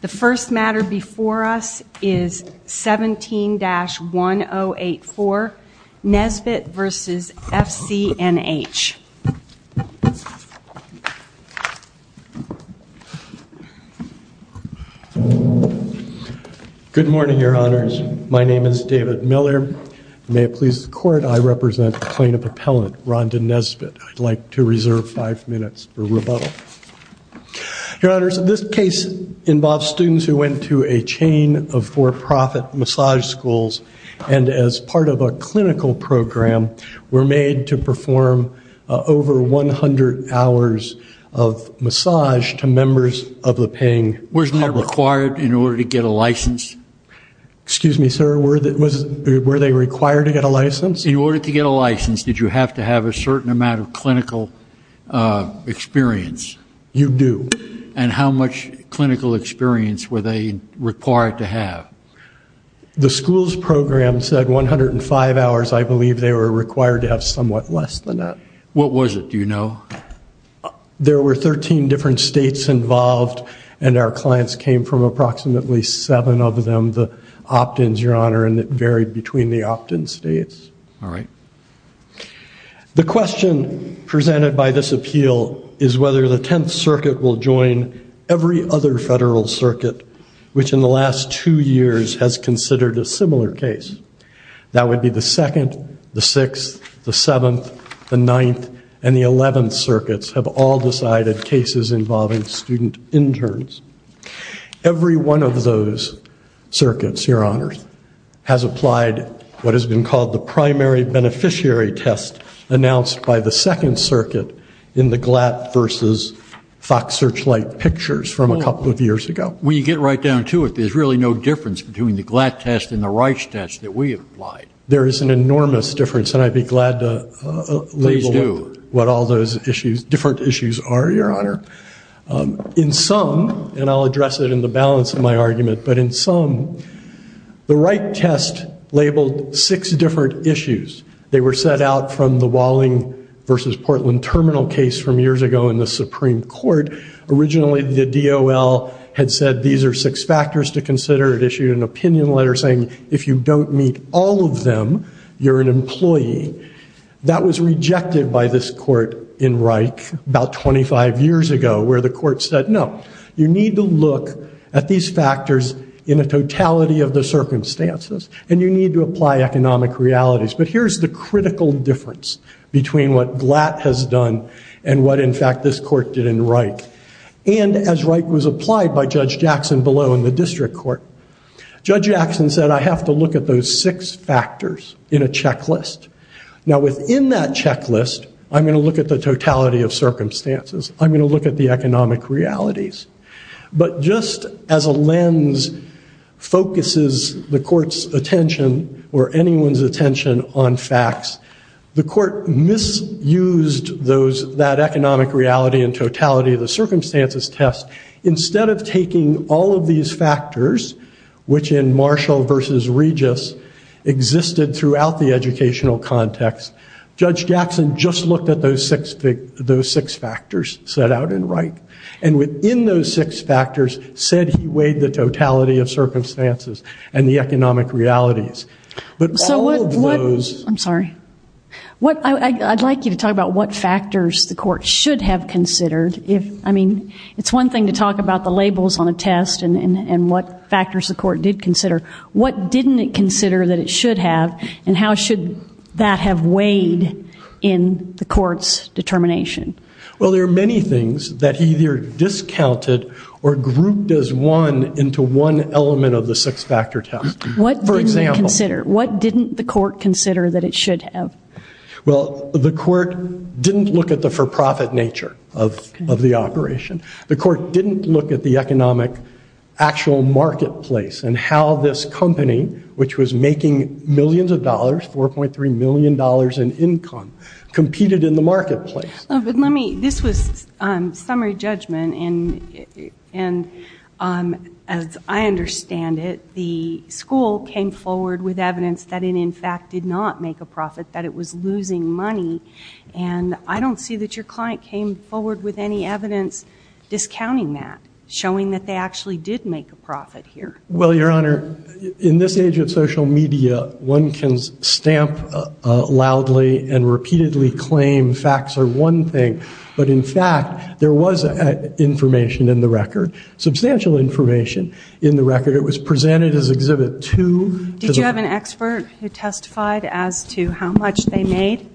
The first matter before us is 17-1084, Nesbitt v. FCNH. Good morning, your honors. My name is David Miller. May it please the court, I represent the plaintiff appellant, Rhonda Nesbitt. I'd like to reserve five minutes for rebuttal. Your honors, this case involves students who went to a chain of for-profit massage schools and as part of a clinical program were made to perform over 100 hours of massage to members of the paying public. Wasn't that required in order to get a license? Excuse me, sir, were they required to get a license? In order to get a license, did you have to have a certain amount of clinical experience? You do. And how much clinical experience were they required to have? The school's program said 105 hours. I believe they were required to have somewhat less than that. What was it? Do you know? There were 13 different states involved and our clients came from approximately seven of them, the opt-ins, your honor, and it varied between the opt-in states. All right. The question presented by this appeal is whether the 10th circuit will join every other federal circuit which in the last two years has considered a similar case. That would be the 2nd, the 6th, the 7th, the 9th, and the 11th circuits have all decided cases involving student interns. Every one of those circuits, your honors, has applied what has been called the primary beneficiary test announced by the 2nd circuit in the GLAT versus Fox Searchlight pictures from a couple of years ago. When you get right down to it, there's really no difference between the GLAT test and the REICH test that we applied. There is an enormous difference and I'd be glad to label what all those different issues are, your honor. In sum, and I'll address it in the balance of my argument, but in sum, the REICH test labeled six different issues. They were set out from the Walling versus Portland Terminal case from years ago in the Supreme Court. Originally, the DOL had said these are six factors to consider and issued an opinion letter saying if you don't meet all of them, you're an employee. That was rejected by this court in REICH about 25 years ago where the court said, no, you need to apply economic realities. But here's the critical difference between what GLAT has done and what, in fact, this court did in REICH. And as REICH was applied by Judge Jackson below in the district court, Judge Jackson said I have to look at those six factors in a checklist. Now within that checklist, I'm going to look at the totality of circumstances. I'm going to look at the economic realities. But just as a lens focuses the court's attention or anyone's attention on facts, the court misused that economic reality and totality of the circumstances test. Instead of taking all of these factors, which in Marshall versus Regis existed throughout the educational context, Judge Jackson just looked at those six factors set out in REICH. And within those six factors, said he weighed the totality of circumstances and the economic realities. But all of those- I'm sorry. I'd like you to talk about what factors the court should have considered. I mean, it's one thing to talk about the labels on a test and what factors the court did consider. What didn't it consider that it should have and how should that have weighed in the court's determination? Well, there are many things that either discounted or grouped as one into one element of the six factor test. What didn't it consider? What didn't the court consider that it should have? Well, the court didn't look at the for-profit nature of the operation. The court didn't look at the economic actual marketplace and how this company, which was making millions of dollars, $4.3 million in income, competed in the marketplace. But let me- this was summary judgment, and as I understand it, the school came forward with evidence that it, in fact, did not make a profit, that it was losing money. And I don't see that your client came forward with any evidence discounting that, showing that they actually did make a profit here. Well, Your Honor, in this age of social media, one can stamp loudly and repeatedly claim facts are one thing, but in fact, there was information in the record, substantial information in the record. It was presented as Exhibit 2. Did you have an expert who testified as to how much they made?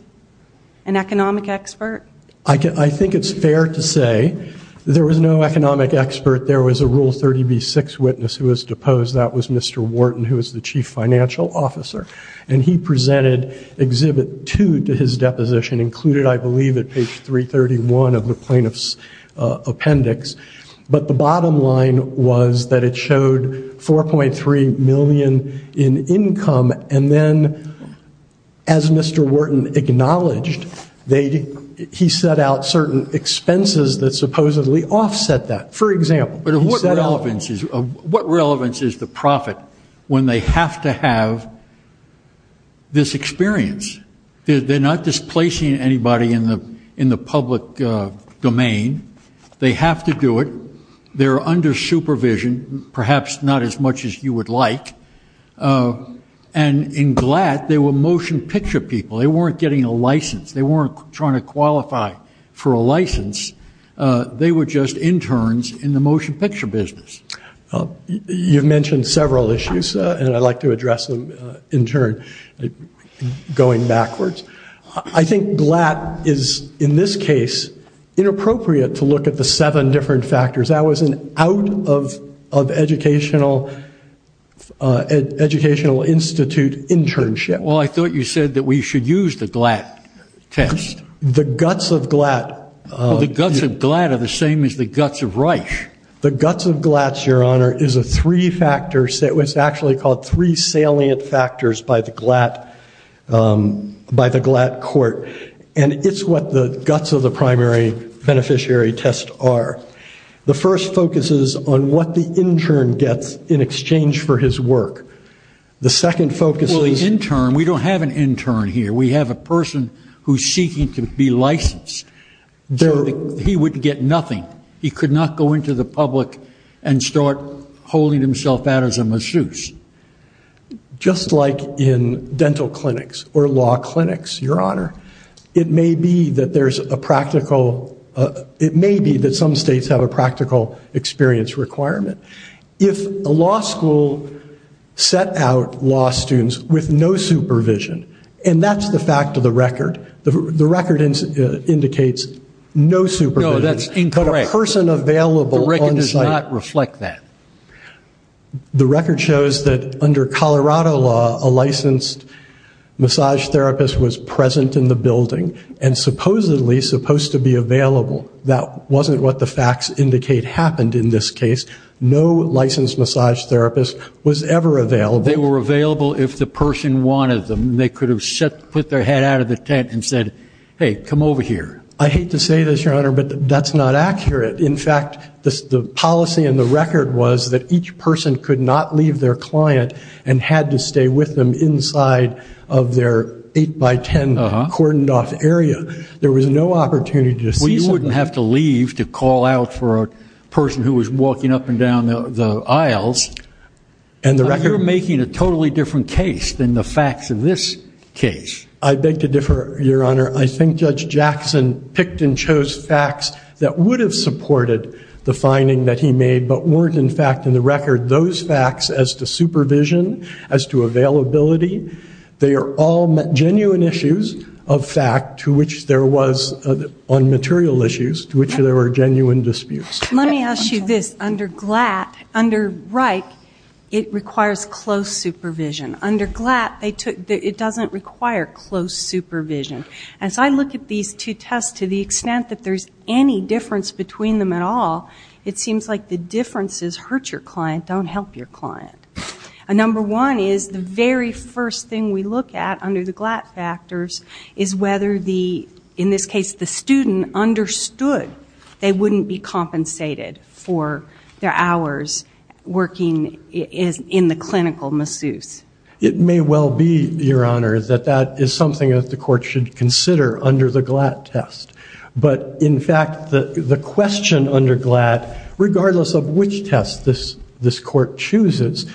An economic expert? I think it's fair to say there was no economic expert. There was a Rule 30b-6 witness who was deposed. That was Mr. Wharton, who was the chief financial officer, and he presented Exhibit 2 to his deposition, included, I believe, at page 331 of the plaintiff's appendix. But the bottom line was that it showed 4.3 million in income, and then, as Mr. Wharton acknowledged, he set out certain expenses that supposedly offset that. For example- But what relevance is the profit when they have to have this experience? They're not displacing anybody in the public domain. They have to do it. They're under supervision, perhaps not as much as you would like. And in GLAD, they were motion picture people. They weren't getting a license. They weren't trying to qualify for a license. They were just interns in the motion picture business. You've mentioned several issues, and I'd like to address them in turn, going backwards. I think GLAD is, in this case, inappropriate to look at the seven different factors. That was an out-of-educational institute internship. Well, I thought you said that we should use the GLAD test. The guts of GLAD- The guts of GLAD are the same as the guts of Reich. The guts of GLAD, Your Honor, is a three-factor, it's actually called three salient factors by the GLAD court. And it's what the guts of the primary beneficiary test are. The first focuses on what the intern gets in exchange for his work. The second focuses- Well, the intern, we don't have an intern here. We have a person who's seeking to be licensed. He wouldn't get nothing. He could not go into the public and start holding himself out as a masseuse. Just like in dental clinics or law clinics, Your Honor, it may be that there's a practical, it may be that some states have a practical experience requirement. If a law school set out law students with no supervision, and that's the fact of the record, the record indicates no supervision. No, that's incorrect. But a person available- The record does not reflect that. The record shows that under Colorado law, a licensed massage therapist was present in the building and supposedly supposed to be available. That wasn't what the facts indicate happened in this case. No licensed massage therapist was ever available. They were available if the person wanted them. They could have put their head out of the tent and said, hey, come over here. I hate to say this, Your Honor, but that's not accurate. In fact, the policy in the record was that each person could not leave their client and had to stay with them inside of their 8 by 10 cordoned off area. There was no opportunity to see someone. We wouldn't have to leave to call out for a person who was walking up and down the aisles. And the record- You're making a totally different case than the facts in this case. I beg to differ, Your Honor. I think Judge Jackson picked and chose facts that would have supported the finding that he made but weren't in fact in the record. Those facts as to supervision, as to availability, they are all genuine issues of fact to which there was, on material issues, to which there were genuine disputes. Let me ask you this. Under Glatt, under Reich, it requires close supervision. Under Glatt, it doesn't require close supervision. As I look at these two tests to the extent that there's any difference between them at all, it seems like the differences hurt your client, don't help your client. Number one is the very first thing we look at under the Glatt factors is whether, in this case, the student understood they wouldn't be compensated for their hours working in the clinical masseuse. It may well be, Your Honor, that that is something that the court should consider under the Glatt test. But in fact, the question under Glatt, regardless of which test this court chooses,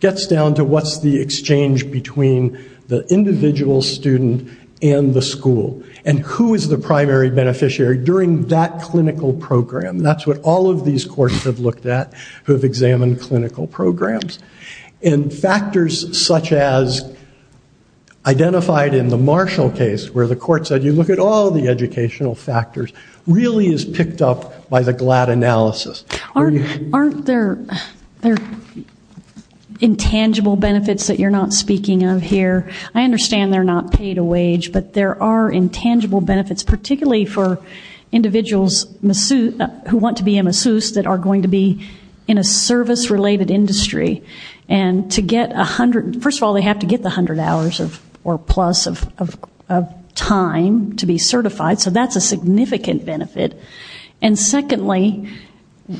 gets down to what's the exchange between the individual student and the school. And who is the primary beneficiary during that clinical program? That's what all of these courts have looked at who have examined clinical programs. And factors such as identified in the Marshall case, where the court said, you look at all the educational factors, really is picked up by the Glatt analysis. Aren't there intangible benefits that you're not speaking of here? I understand they're not paid a wage, but there are intangible benefits, particularly for individuals who want to be a masseuse that are going to be in a service-related industry. First of all, they have to get the 100 hours or plus of time to be certified, so that's a significant benefit. And secondly,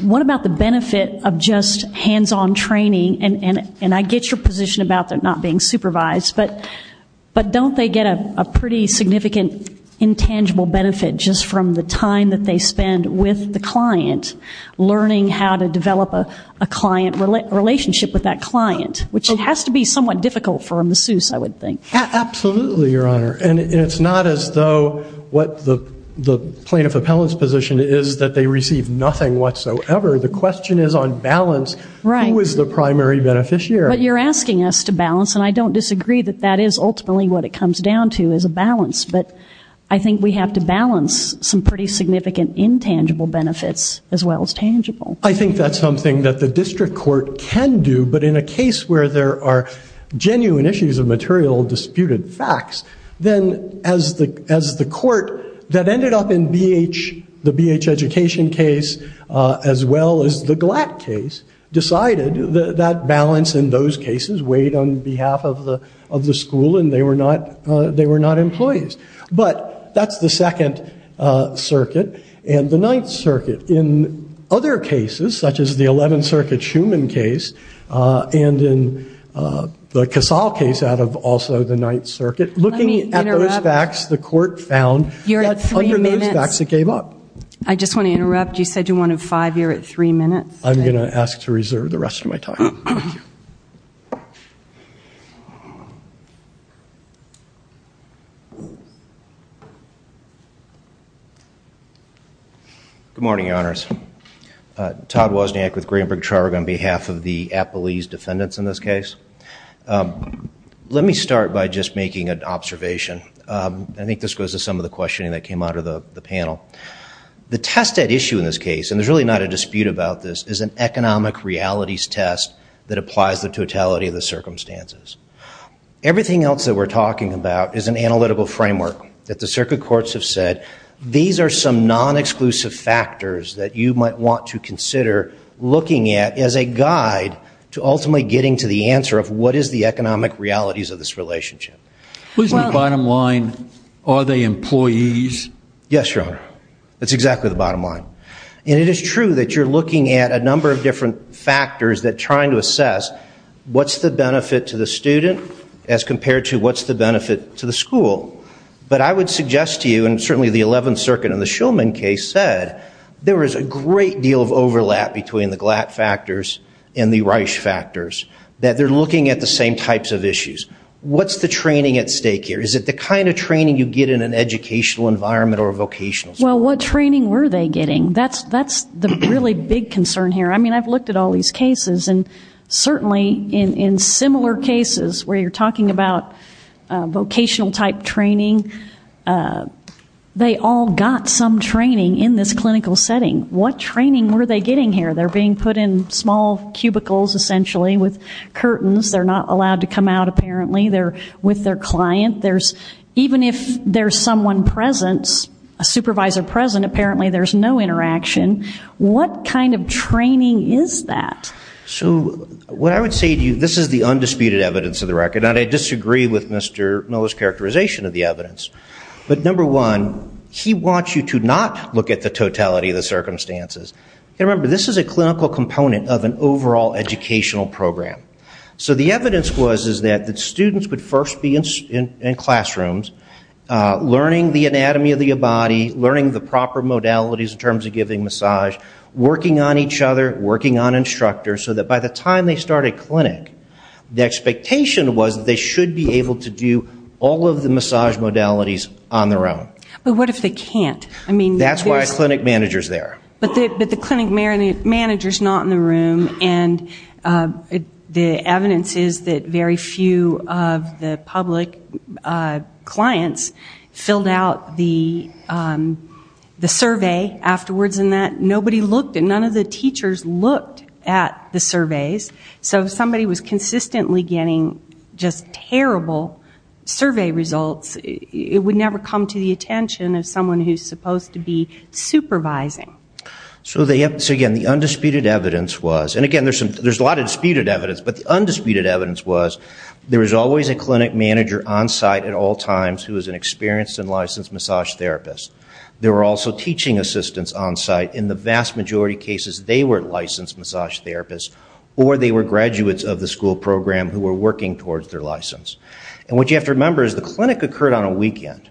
what about the benefit of just hands-on training? And I get your position about them not being supervised, but don't they get a pretty significant intangible benefit just from the time that they spend with the client, learning how to develop a client relationship with that client, which has to be somewhat difficult for a masseuse, I would think. Absolutely, Your Honor. And it's not as though what the plaintiff appellant's position is that they receive nothing whatsoever. The question is on balance, who is the primary beneficiary? But you're asking us to balance, and I don't disagree that that is ultimately what it comes down to, is a balance, but I think we have to balance some pretty significant intangible benefits as well as tangible. I think that's something that the district court can do, but in a case where there are genuine issues of material disputed facts, then as the court that ended up in the BH education case as well as the Glatt case, decided that balance in those cases weighed on behalf of the school and they were not employees. But that's the Second Circuit and the Ninth Circuit. In other cases, such as the 11th Circuit Schumann case and in the Casal case out of also the Ninth Circuit, looking at those facts, the court found that under those facts, it gave up. I just want to interrupt. You said you wanted five. You're at three minutes. I'm going to ask to reserve the rest of my time. Thank you. Good morning, Your Honors. Todd Wozniak with Greenberg Charter on behalf of the Appalese defendants in this case. Let me start by just making an observation. I think this goes to some of the questioning that came out of the panel. The test at issue in this case, and there's really not a dispute about this, is an economic realities test that applies the totality of the circumstances. Everything else that we're talking about is an analytical framework that the circuit courts have said, these are some non-exclusive factors that you might want to consider looking at as a guide to ultimately getting to the answer of what is the economic realities of this relationship. Isn't the bottom line, are they employees? Yes, Your Honor. That's exactly the bottom line. And it is true that you're looking at a number of different factors that trying to assess what's the benefit to the student as compared to what's the benefit to the school. But I would suggest to you, and certainly the 11th Circuit and the Shulman case said, there was a great deal of overlap between the Glatt factors and the Reich factors. That they're looking at the same types of issues. What's the training at stake here? Is it the kind of training you get in an educational environment or a vocational school? Well, what training were they getting? That's the really big concern here. I mean, I've looked at all these cases and certainly in similar cases where you're talking about vocational type training, they all got some training in this clinical setting. What training were they getting here? They're being put in small cubicles, essentially, with curtains. They're not allowed to come out, apparently. They're with their client. Even if there's someone present, a supervisor present, apparently there's no interaction. What kind of training is that? So what I would say to you, this is the undisputed evidence of the record. And I disagree with Mr. Miller's characterization of the evidence. But number one, he wants you to not look at the totality of the circumstances. Remember, this is a clinical component of an overall educational program. So the evidence was that the students would first be in classrooms, learning the anatomy of the body, learning the proper modalities in terms of giving massage, working on each other, working on instructors, so that by the time they start a clinic, the expectation was that they should be able to do all of the massage modalities on their own. But what if they can't? That's why a clinic manager's there. But the clinic manager's not in the room. And the evidence is that very few of the public clients filled out the survey afterwards. Nobody looked, and none of the teachers looked at the surveys. So if somebody was consistently getting just terrible survey results, it would never come to the attention of someone who's supposed to be supervising. So again, the undisputed evidence was, and again, there's a lot of disputed evidence, but the undisputed evidence was there was always a clinic manager on site at all times who was an experienced and licensed massage therapist. There were also teaching assistants on site. In the vast majority of cases, they were licensed massage therapists, or they were graduates of the school program who were working towards their license. And what you have to remember is the clinic occurred on a weekend.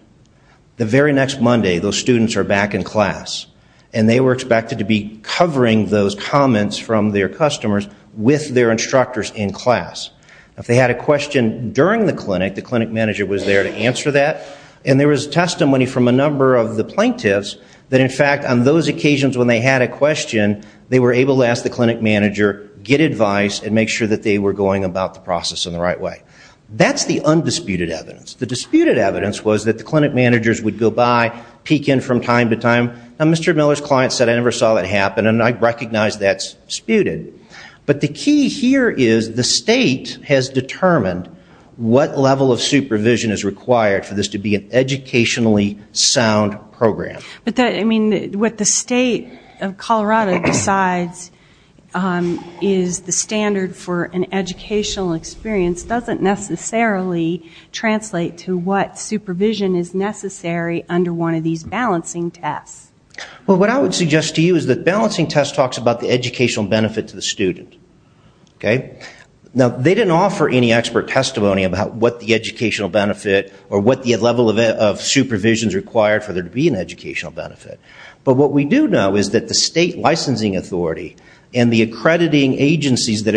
The very next Monday, those students are back in class. And they were expected to be covering those comments from their customers with their instructors in class. If they had a question during the clinic, the clinic manager was there to answer that. And there was testimony from a number of the plaintiffs that, in fact, on those occasions when they had a question, they were able to ask the clinic manager, get advice, and make sure that they were going about the process in the right way. That's the undisputed evidence. The disputed evidence was that the clinic managers would go by, peek in from time to time. Now, Mr. Miller's client said, I never saw that happen, and I recognize that's disputed. But the key here is the state has determined what level of supervision is required for this to be an educationally sound program. But that, I mean, what the state of Colorado decides is the standard for an educational experience doesn't necessarily translate to what supervision is necessary under one of these balancing tests. Well, what I would suggest to you is that balancing test talks about the educational benefit to the student. Now, they didn't offer any expert testimony about what the educational benefit or what the level of supervision is required for there to be an educational benefit. But what we do know is that the state licensing authority and the accrediting agencies that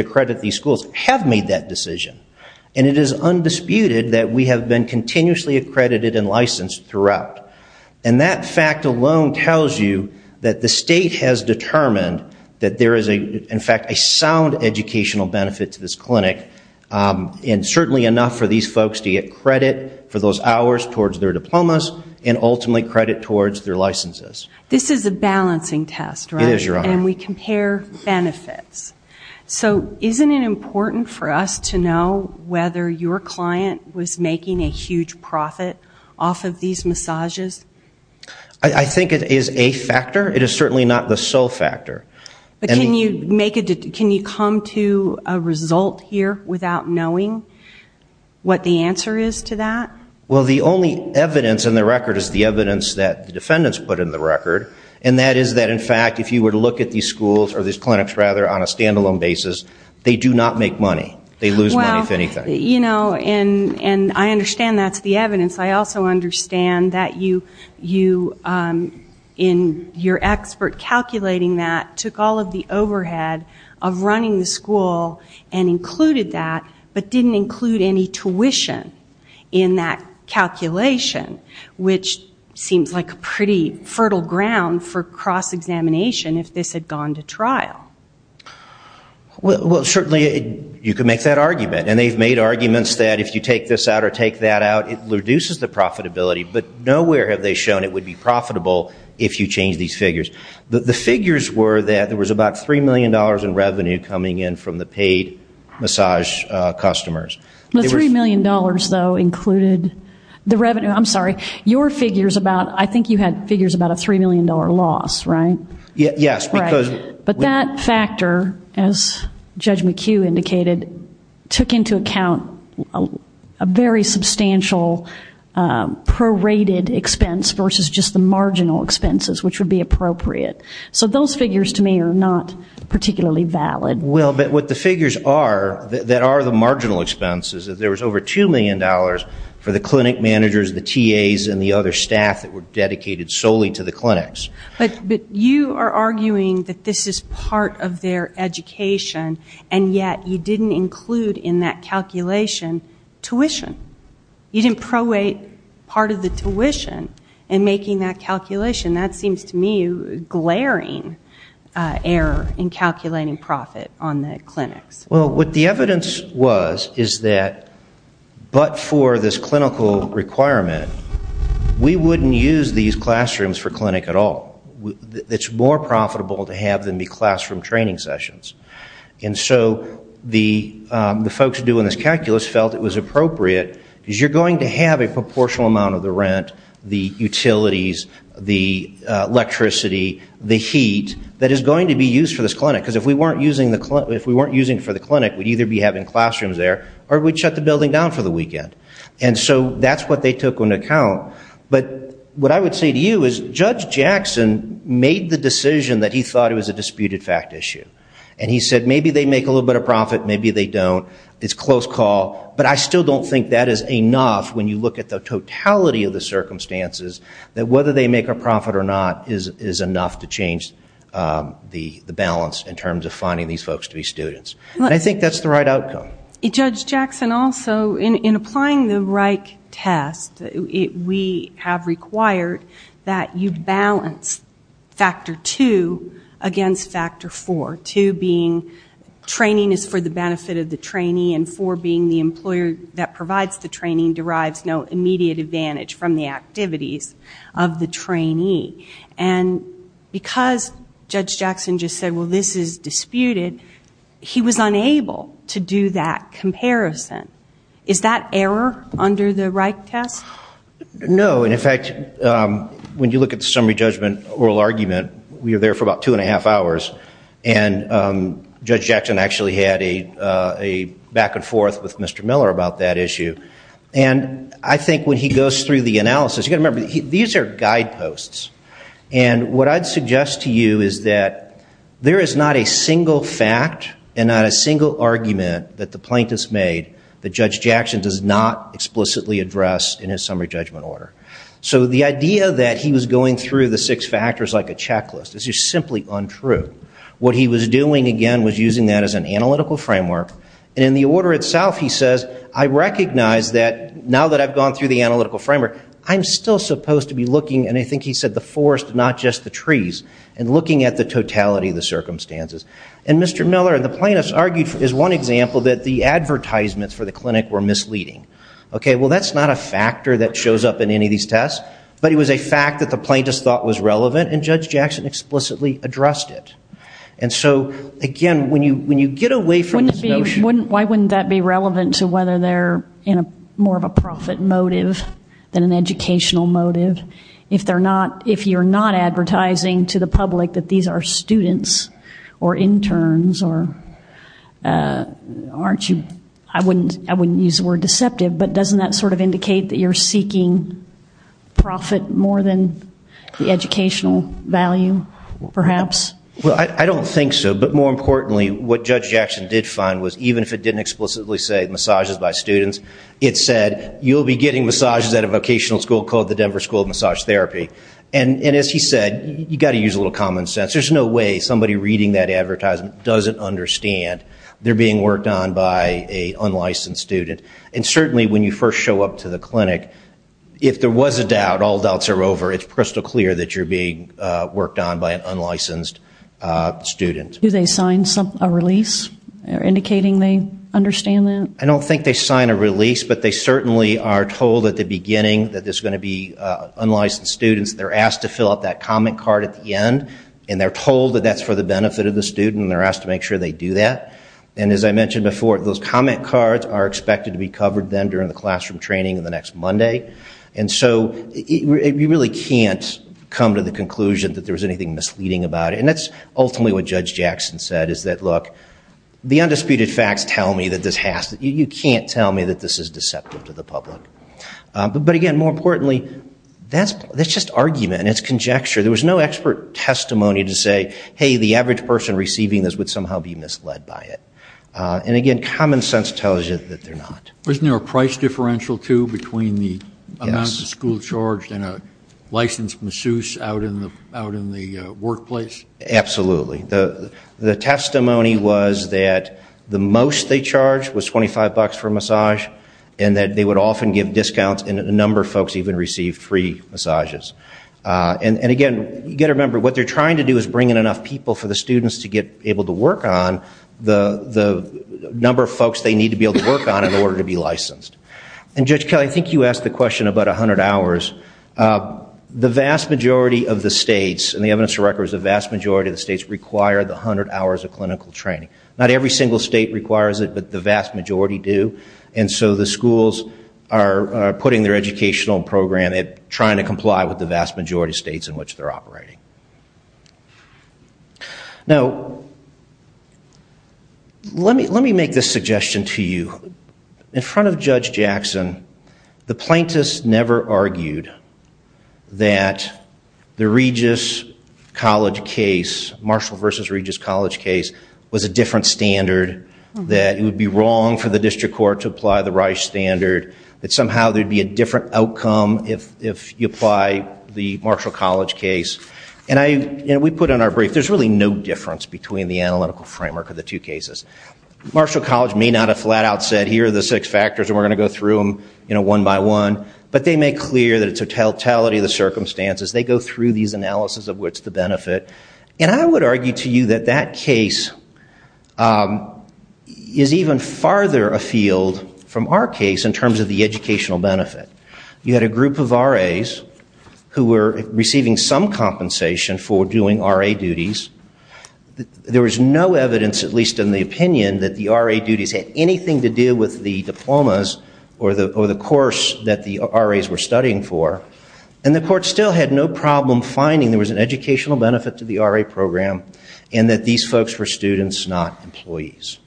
decision. And it is undisputed that we have been continuously accredited and licensed throughout. And that fact alone tells you that the state has determined that there is, in fact, a sound educational benefit to this clinic and certainly enough for these folks to get credit for those hours towards their diplomas and ultimately credit towards their licenses. This is a balancing test, right? It is, Your Honor. And we compare benefits. So isn't it important for us to know whether your client was making a huge profit off of these massages? I think it is a factor. It is certainly not the sole factor. But can you come to a result here without knowing what the answer is to that? Well, the only evidence in the record is the evidence that the defendants put in the record. And that is that, in fact, if you were to look at these schools or these clinics, rather, on a stand-alone basis, they do not make money. They lose money, if anything. Well, you know, and I understand that is the evidence. I also understand that you, in your expert calculating that, took all of the overhead of running the school and included that, but didn't include any tuition in that calculation, which seems like a pretty fertile ground for cross-examination if this had gone to trial. Well, certainly you could make that argument. And they've made arguments that if you take this out or take that out, it reduces the profitability. But nowhere have they shown it would be profitable if you change these figures. The figures were that there was about $3 million in revenue coming in from the paid massage customers. The $3 million, though, included the revenue. I'm sorry. Your figures about, I think you had figures about a $3 million loss, right? Yes. Right. But that factor, as Judge McHugh indicated, took into account a very substantial prorated expense versus just the marginal expenses, which would be appropriate. So those figures, to me, are not particularly valid. Well, but what the figures are that are the marginal expenses is there was over $2 million for the clinic managers, the TAs, and the other staff that were dedicated solely to the clinics. But you are arguing that this is part of their education, and yet you didn't include in that calculation tuition. You didn't prorate part of the tuition in making that calculation. That seems to me glaring error in calculating profit on the clinics. Well, what the evidence was is that but for this clinical requirement, we wouldn't use these classrooms for clinic at all. It's more profitable to have than the classroom training sessions. And so the folks doing this calculus felt it was appropriate because you're going to have a proportional amount of the rent, the utilities, the electricity, the heat that is going to be used for this clinic. Because if we weren't using it for the clinic, we'd either be having classrooms there or we'd shut the building down for the weekend. And so that's what they took into account. But what I would say to you is Judge Jackson made the decision that he thought it was a disputed fact issue. And he said, maybe they make a little bit of profit. Maybe they don't. It's close call. But I still don't think that is enough when you look at the totality of the circumstances that whether they make a profit or not is enough to change the balance in terms of finding these folks to be students. And I think that's the right outcome. Judge Jackson, also, in applying the Wrike test, we have required that you balance factor two against factor four, two being training is for the benefit of the trainee and four being the employer that provides the training derives no immediate advantage from the activities of the trainee. And because Judge Jackson just said, well, this is disputed, he was unable to do that comparison. Is that error under the Wrike test? No. And in fact, when you look at the summary judgment oral argument, we were there for about two and a half hours. And Judge Jackson actually had a back and forth with Mr. Miller about that issue. And I think when he goes through the analysis, you've got to remember, these are guideposts. And what I'd suggest to you is that there is not a single fact and not a single argument that the plaintiff's made that Judge Jackson does not explicitly address in his summary judgment order. So the idea that he was going through the six factors like a checklist is just simply untrue. What he was doing, again, was using that as an analytical framework. And in the order itself, he says, I recognize that now that I've gone through the analytical framework, I'm still supposed to be looking, and I think he said the forest, not just the trees, and looking at the totality of the circumstances. And Mr. Miller and the plaintiffs argued is one example that the advertisements for the clinic were misleading. OK, well, that's not a factor that shows up in any of these tests. But it was a fact that the plaintiffs thought was relevant. And Judge Jackson explicitly addressed it. And so, again, when you get away from this notion. Why wouldn't that be relevant to whether they're more of a profit motive than an educational motive? If you're not advertising to the public that these are students or interns or aren't you, I wouldn't use the word deceptive, but doesn't that sort of indicate that you're seeking profit more than the educational value, perhaps? Well, I don't think so. But more importantly, what Judge Jackson did find was even if it didn't explicitly say massages by students, it said you'll be getting massages at a vocational school called the Denver School of Massage Therapy. And as he said, you've got to use a little common sense. There's no way somebody reading that advertisement doesn't understand they're being worked on by an unlicensed student. And certainly when you first show up to the clinic, if there was a doubt, all doubts are over. It's crystal clear that you're being worked on by an unlicensed student. Do they sign a release indicating they understand that? I don't think they sign a release, but they certainly are told at the beginning that there's going to be unlicensed students. They're asked to fill out that comment card at the end. And they're told that that's for the benefit of the student, and they're asked to make sure they do that. And as I mentioned before, those comment cards are expected to be covered then during the classroom training in the next Monday. And so you really can't come to the conclusion that there was anything misleading about it. And that's ultimately what Judge Jackson said, is that look, the undisputed facts tell me that this has to be. You can't tell me that this is deceptive to the public. But again, more importantly, that's just argument, and it's conjecture. There was no expert testimony to say, hey, the average person receiving this would somehow be misled by it. And again, common sense tells you that they're not. Wasn't there a price differential, too, between the amount the school charged and a licensed masseuse out in the workplace? Absolutely. The testimony was that the most they charged was $25 for a massage, and that they would often give discounts, and a number of folks even received free massages. And again, you've got to remember, what they're trying to do is bring in enough people for the students to get able to work on the number of folks they need to be able to work on in order to be licensed. And Judge Kelly, I think you asked the question about 100 hours. The vast majority of the states, and the evidence of record is the vast majority of the states require the 100 hours of clinical training. Not every single state requires it, but the vast majority do. And so the schools are putting their educational program, trying to comply with the vast majority of states in which they're operating. Now, let me make this suggestion to you. In front of Judge Jackson, the plaintiffs never argued that the Regis College case, Marshall versus Regis College case, was a different standard, that it would be wrong for the district court to apply the Reich standard, that somehow there'd be a different outcome if you apply the Marshall College case. And we put in our brief, there's really no difference between the analytical framework of the two cases. Marshall College may not have flat out said, here are the six factors, and we're going to go through them one by one. But they make clear that it's a totality of the circumstances. They go through these analysis of what's the benefit. And I would argue to you that that case is even farther afield from our case in terms of the educational benefit. You had a group of RAs who were receiving some compensation for doing RA duties. There was no evidence, at least in the opinion, that the RA duties had anything to do with the diplomas or the course that the RAs were studying for. And the court still had no problem finding there was an educational benefit to the RA program, and that these folks were students, not employees.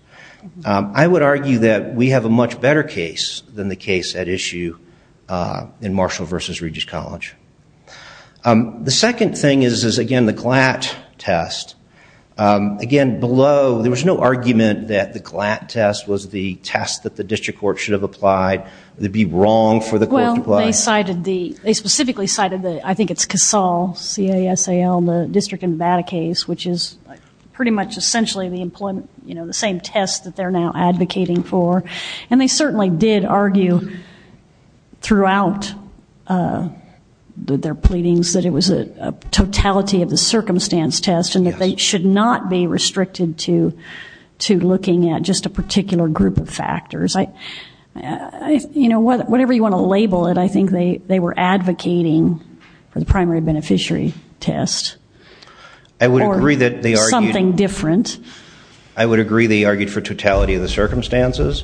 I would argue that we have a much better case than the case at issue in Marshall versus Regis College. The second thing is, again, the GLAT test. Again, below, there was no argument that the GLAT test was the test that the district court should have applied. It would be wrong for the court to apply it. Well, they specifically cited, I think it's CASAL, C-A-S-A-L, the district in Nevada case, which is pretty much essentially the same test that they're now advocating for. And they certainly did argue throughout their pleadings that it was a totality of the circumstance test and that they should not be restricted to looking at just a particular group of factors. Whatever you want to label it, I think they were advocating for the primary beneficiary test. Or something different. I would agree they argued for totality of the circumstances.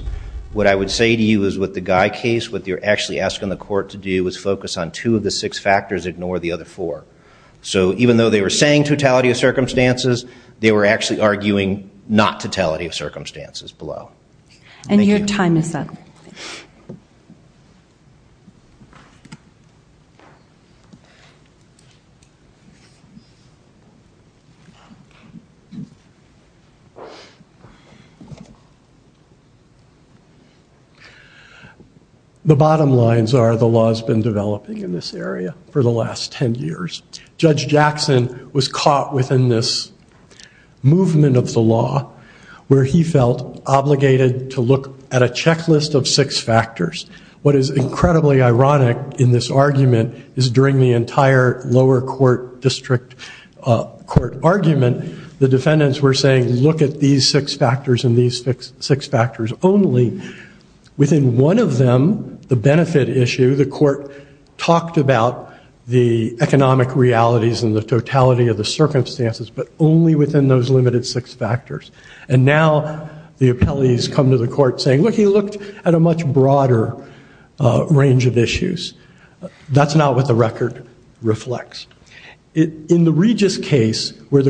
What I would say to you is with the Guy case, what they're actually asking the court to do is focus on two of the six factors, ignore the other four. So even though they were saying totality of circumstances, they were actually arguing not totality of circumstances below. And your time is up. Thank you. The bottom lines are the law has been developing in this area for the last 10 years. Judge Jackson was caught within this movement of the law where he felt obligated to look at a checklist of six factors. What is incredibly ironic in this argument is during the entire lower court district court argument, the defendants were saying, look at these six factors and these six factors only. Within one of them, the benefit issue, the court talked about the economic realities and the totality of the circumstances, but only within those limited six factors. And now the appellees come to the court saying, look, he looked at a much broader range of issues. That's not what the record reflects. In the Regis case where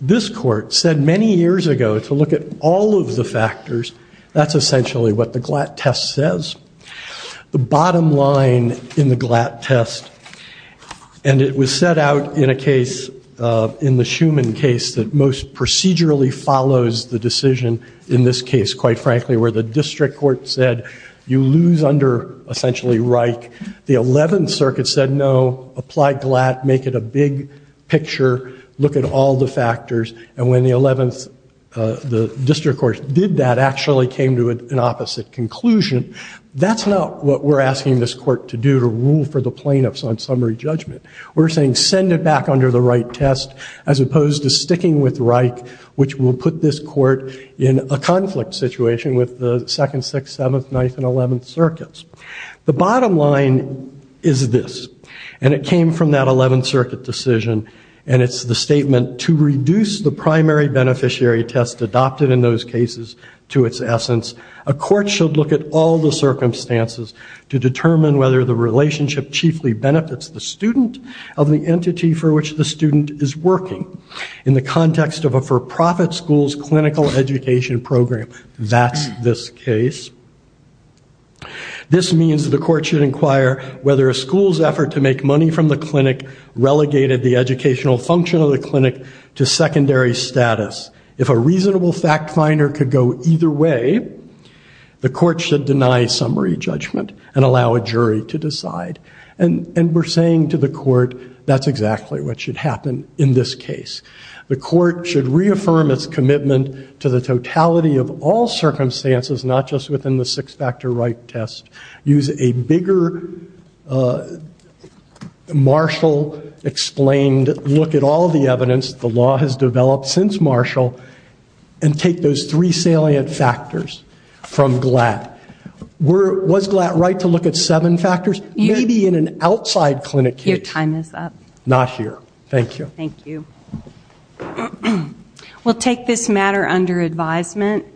this court said many years ago to look at all of the factors, that's essentially what the Glatt test says. The bottom line in the Glatt test, and it was set out in a case, in the Schuman case that most procedurally follows the decision in this case, quite frankly, where the district court said you lose under essentially Reich. The 11th Circuit said no, apply Glatt, make it a big picture, look at all the factors. And when the 11th, the district court did that, actually came to an opposite conclusion. That's not what we're asking this court to do, to rule for the plaintiffs on summary judgment. We're saying send it back under the right test as opposed to sticking with Reich, which will put this court in a conflict situation with the second, sixth, seventh, ninth, and eleventh circuits. The bottom line is this, and it came from that 11th Circuit decision, and it's the statement, to reduce the primary beneficiary test adopted in those cases to its essence, a court should look at all the circumstances to determine whether the relationship chiefly benefits the student of the entity for which the student is working. In the context of a for-profit school's clinical education program, that's this case. This means that the court should inquire whether a school's effort to make money from the clinic relegated the educational function of the clinic to secondary status. If a reasonable fact finder could go either way, the court should deny summary judgment and allow a jury to decide. And we're saying to the court, that's exactly what should happen in this case. The court should reaffirm its commitment to the totality of all circumstances, not just within the six-factor right test. Use a bigger Marshall-explained look at all the evidence the law has developed since Marshall and take those three salient factors from Glatt. Was Glatt right to look at seven factors? Maybe in an outside clinic case. Your time is up. Not here. Thank you. Thank you. We'll take this matter under advisement.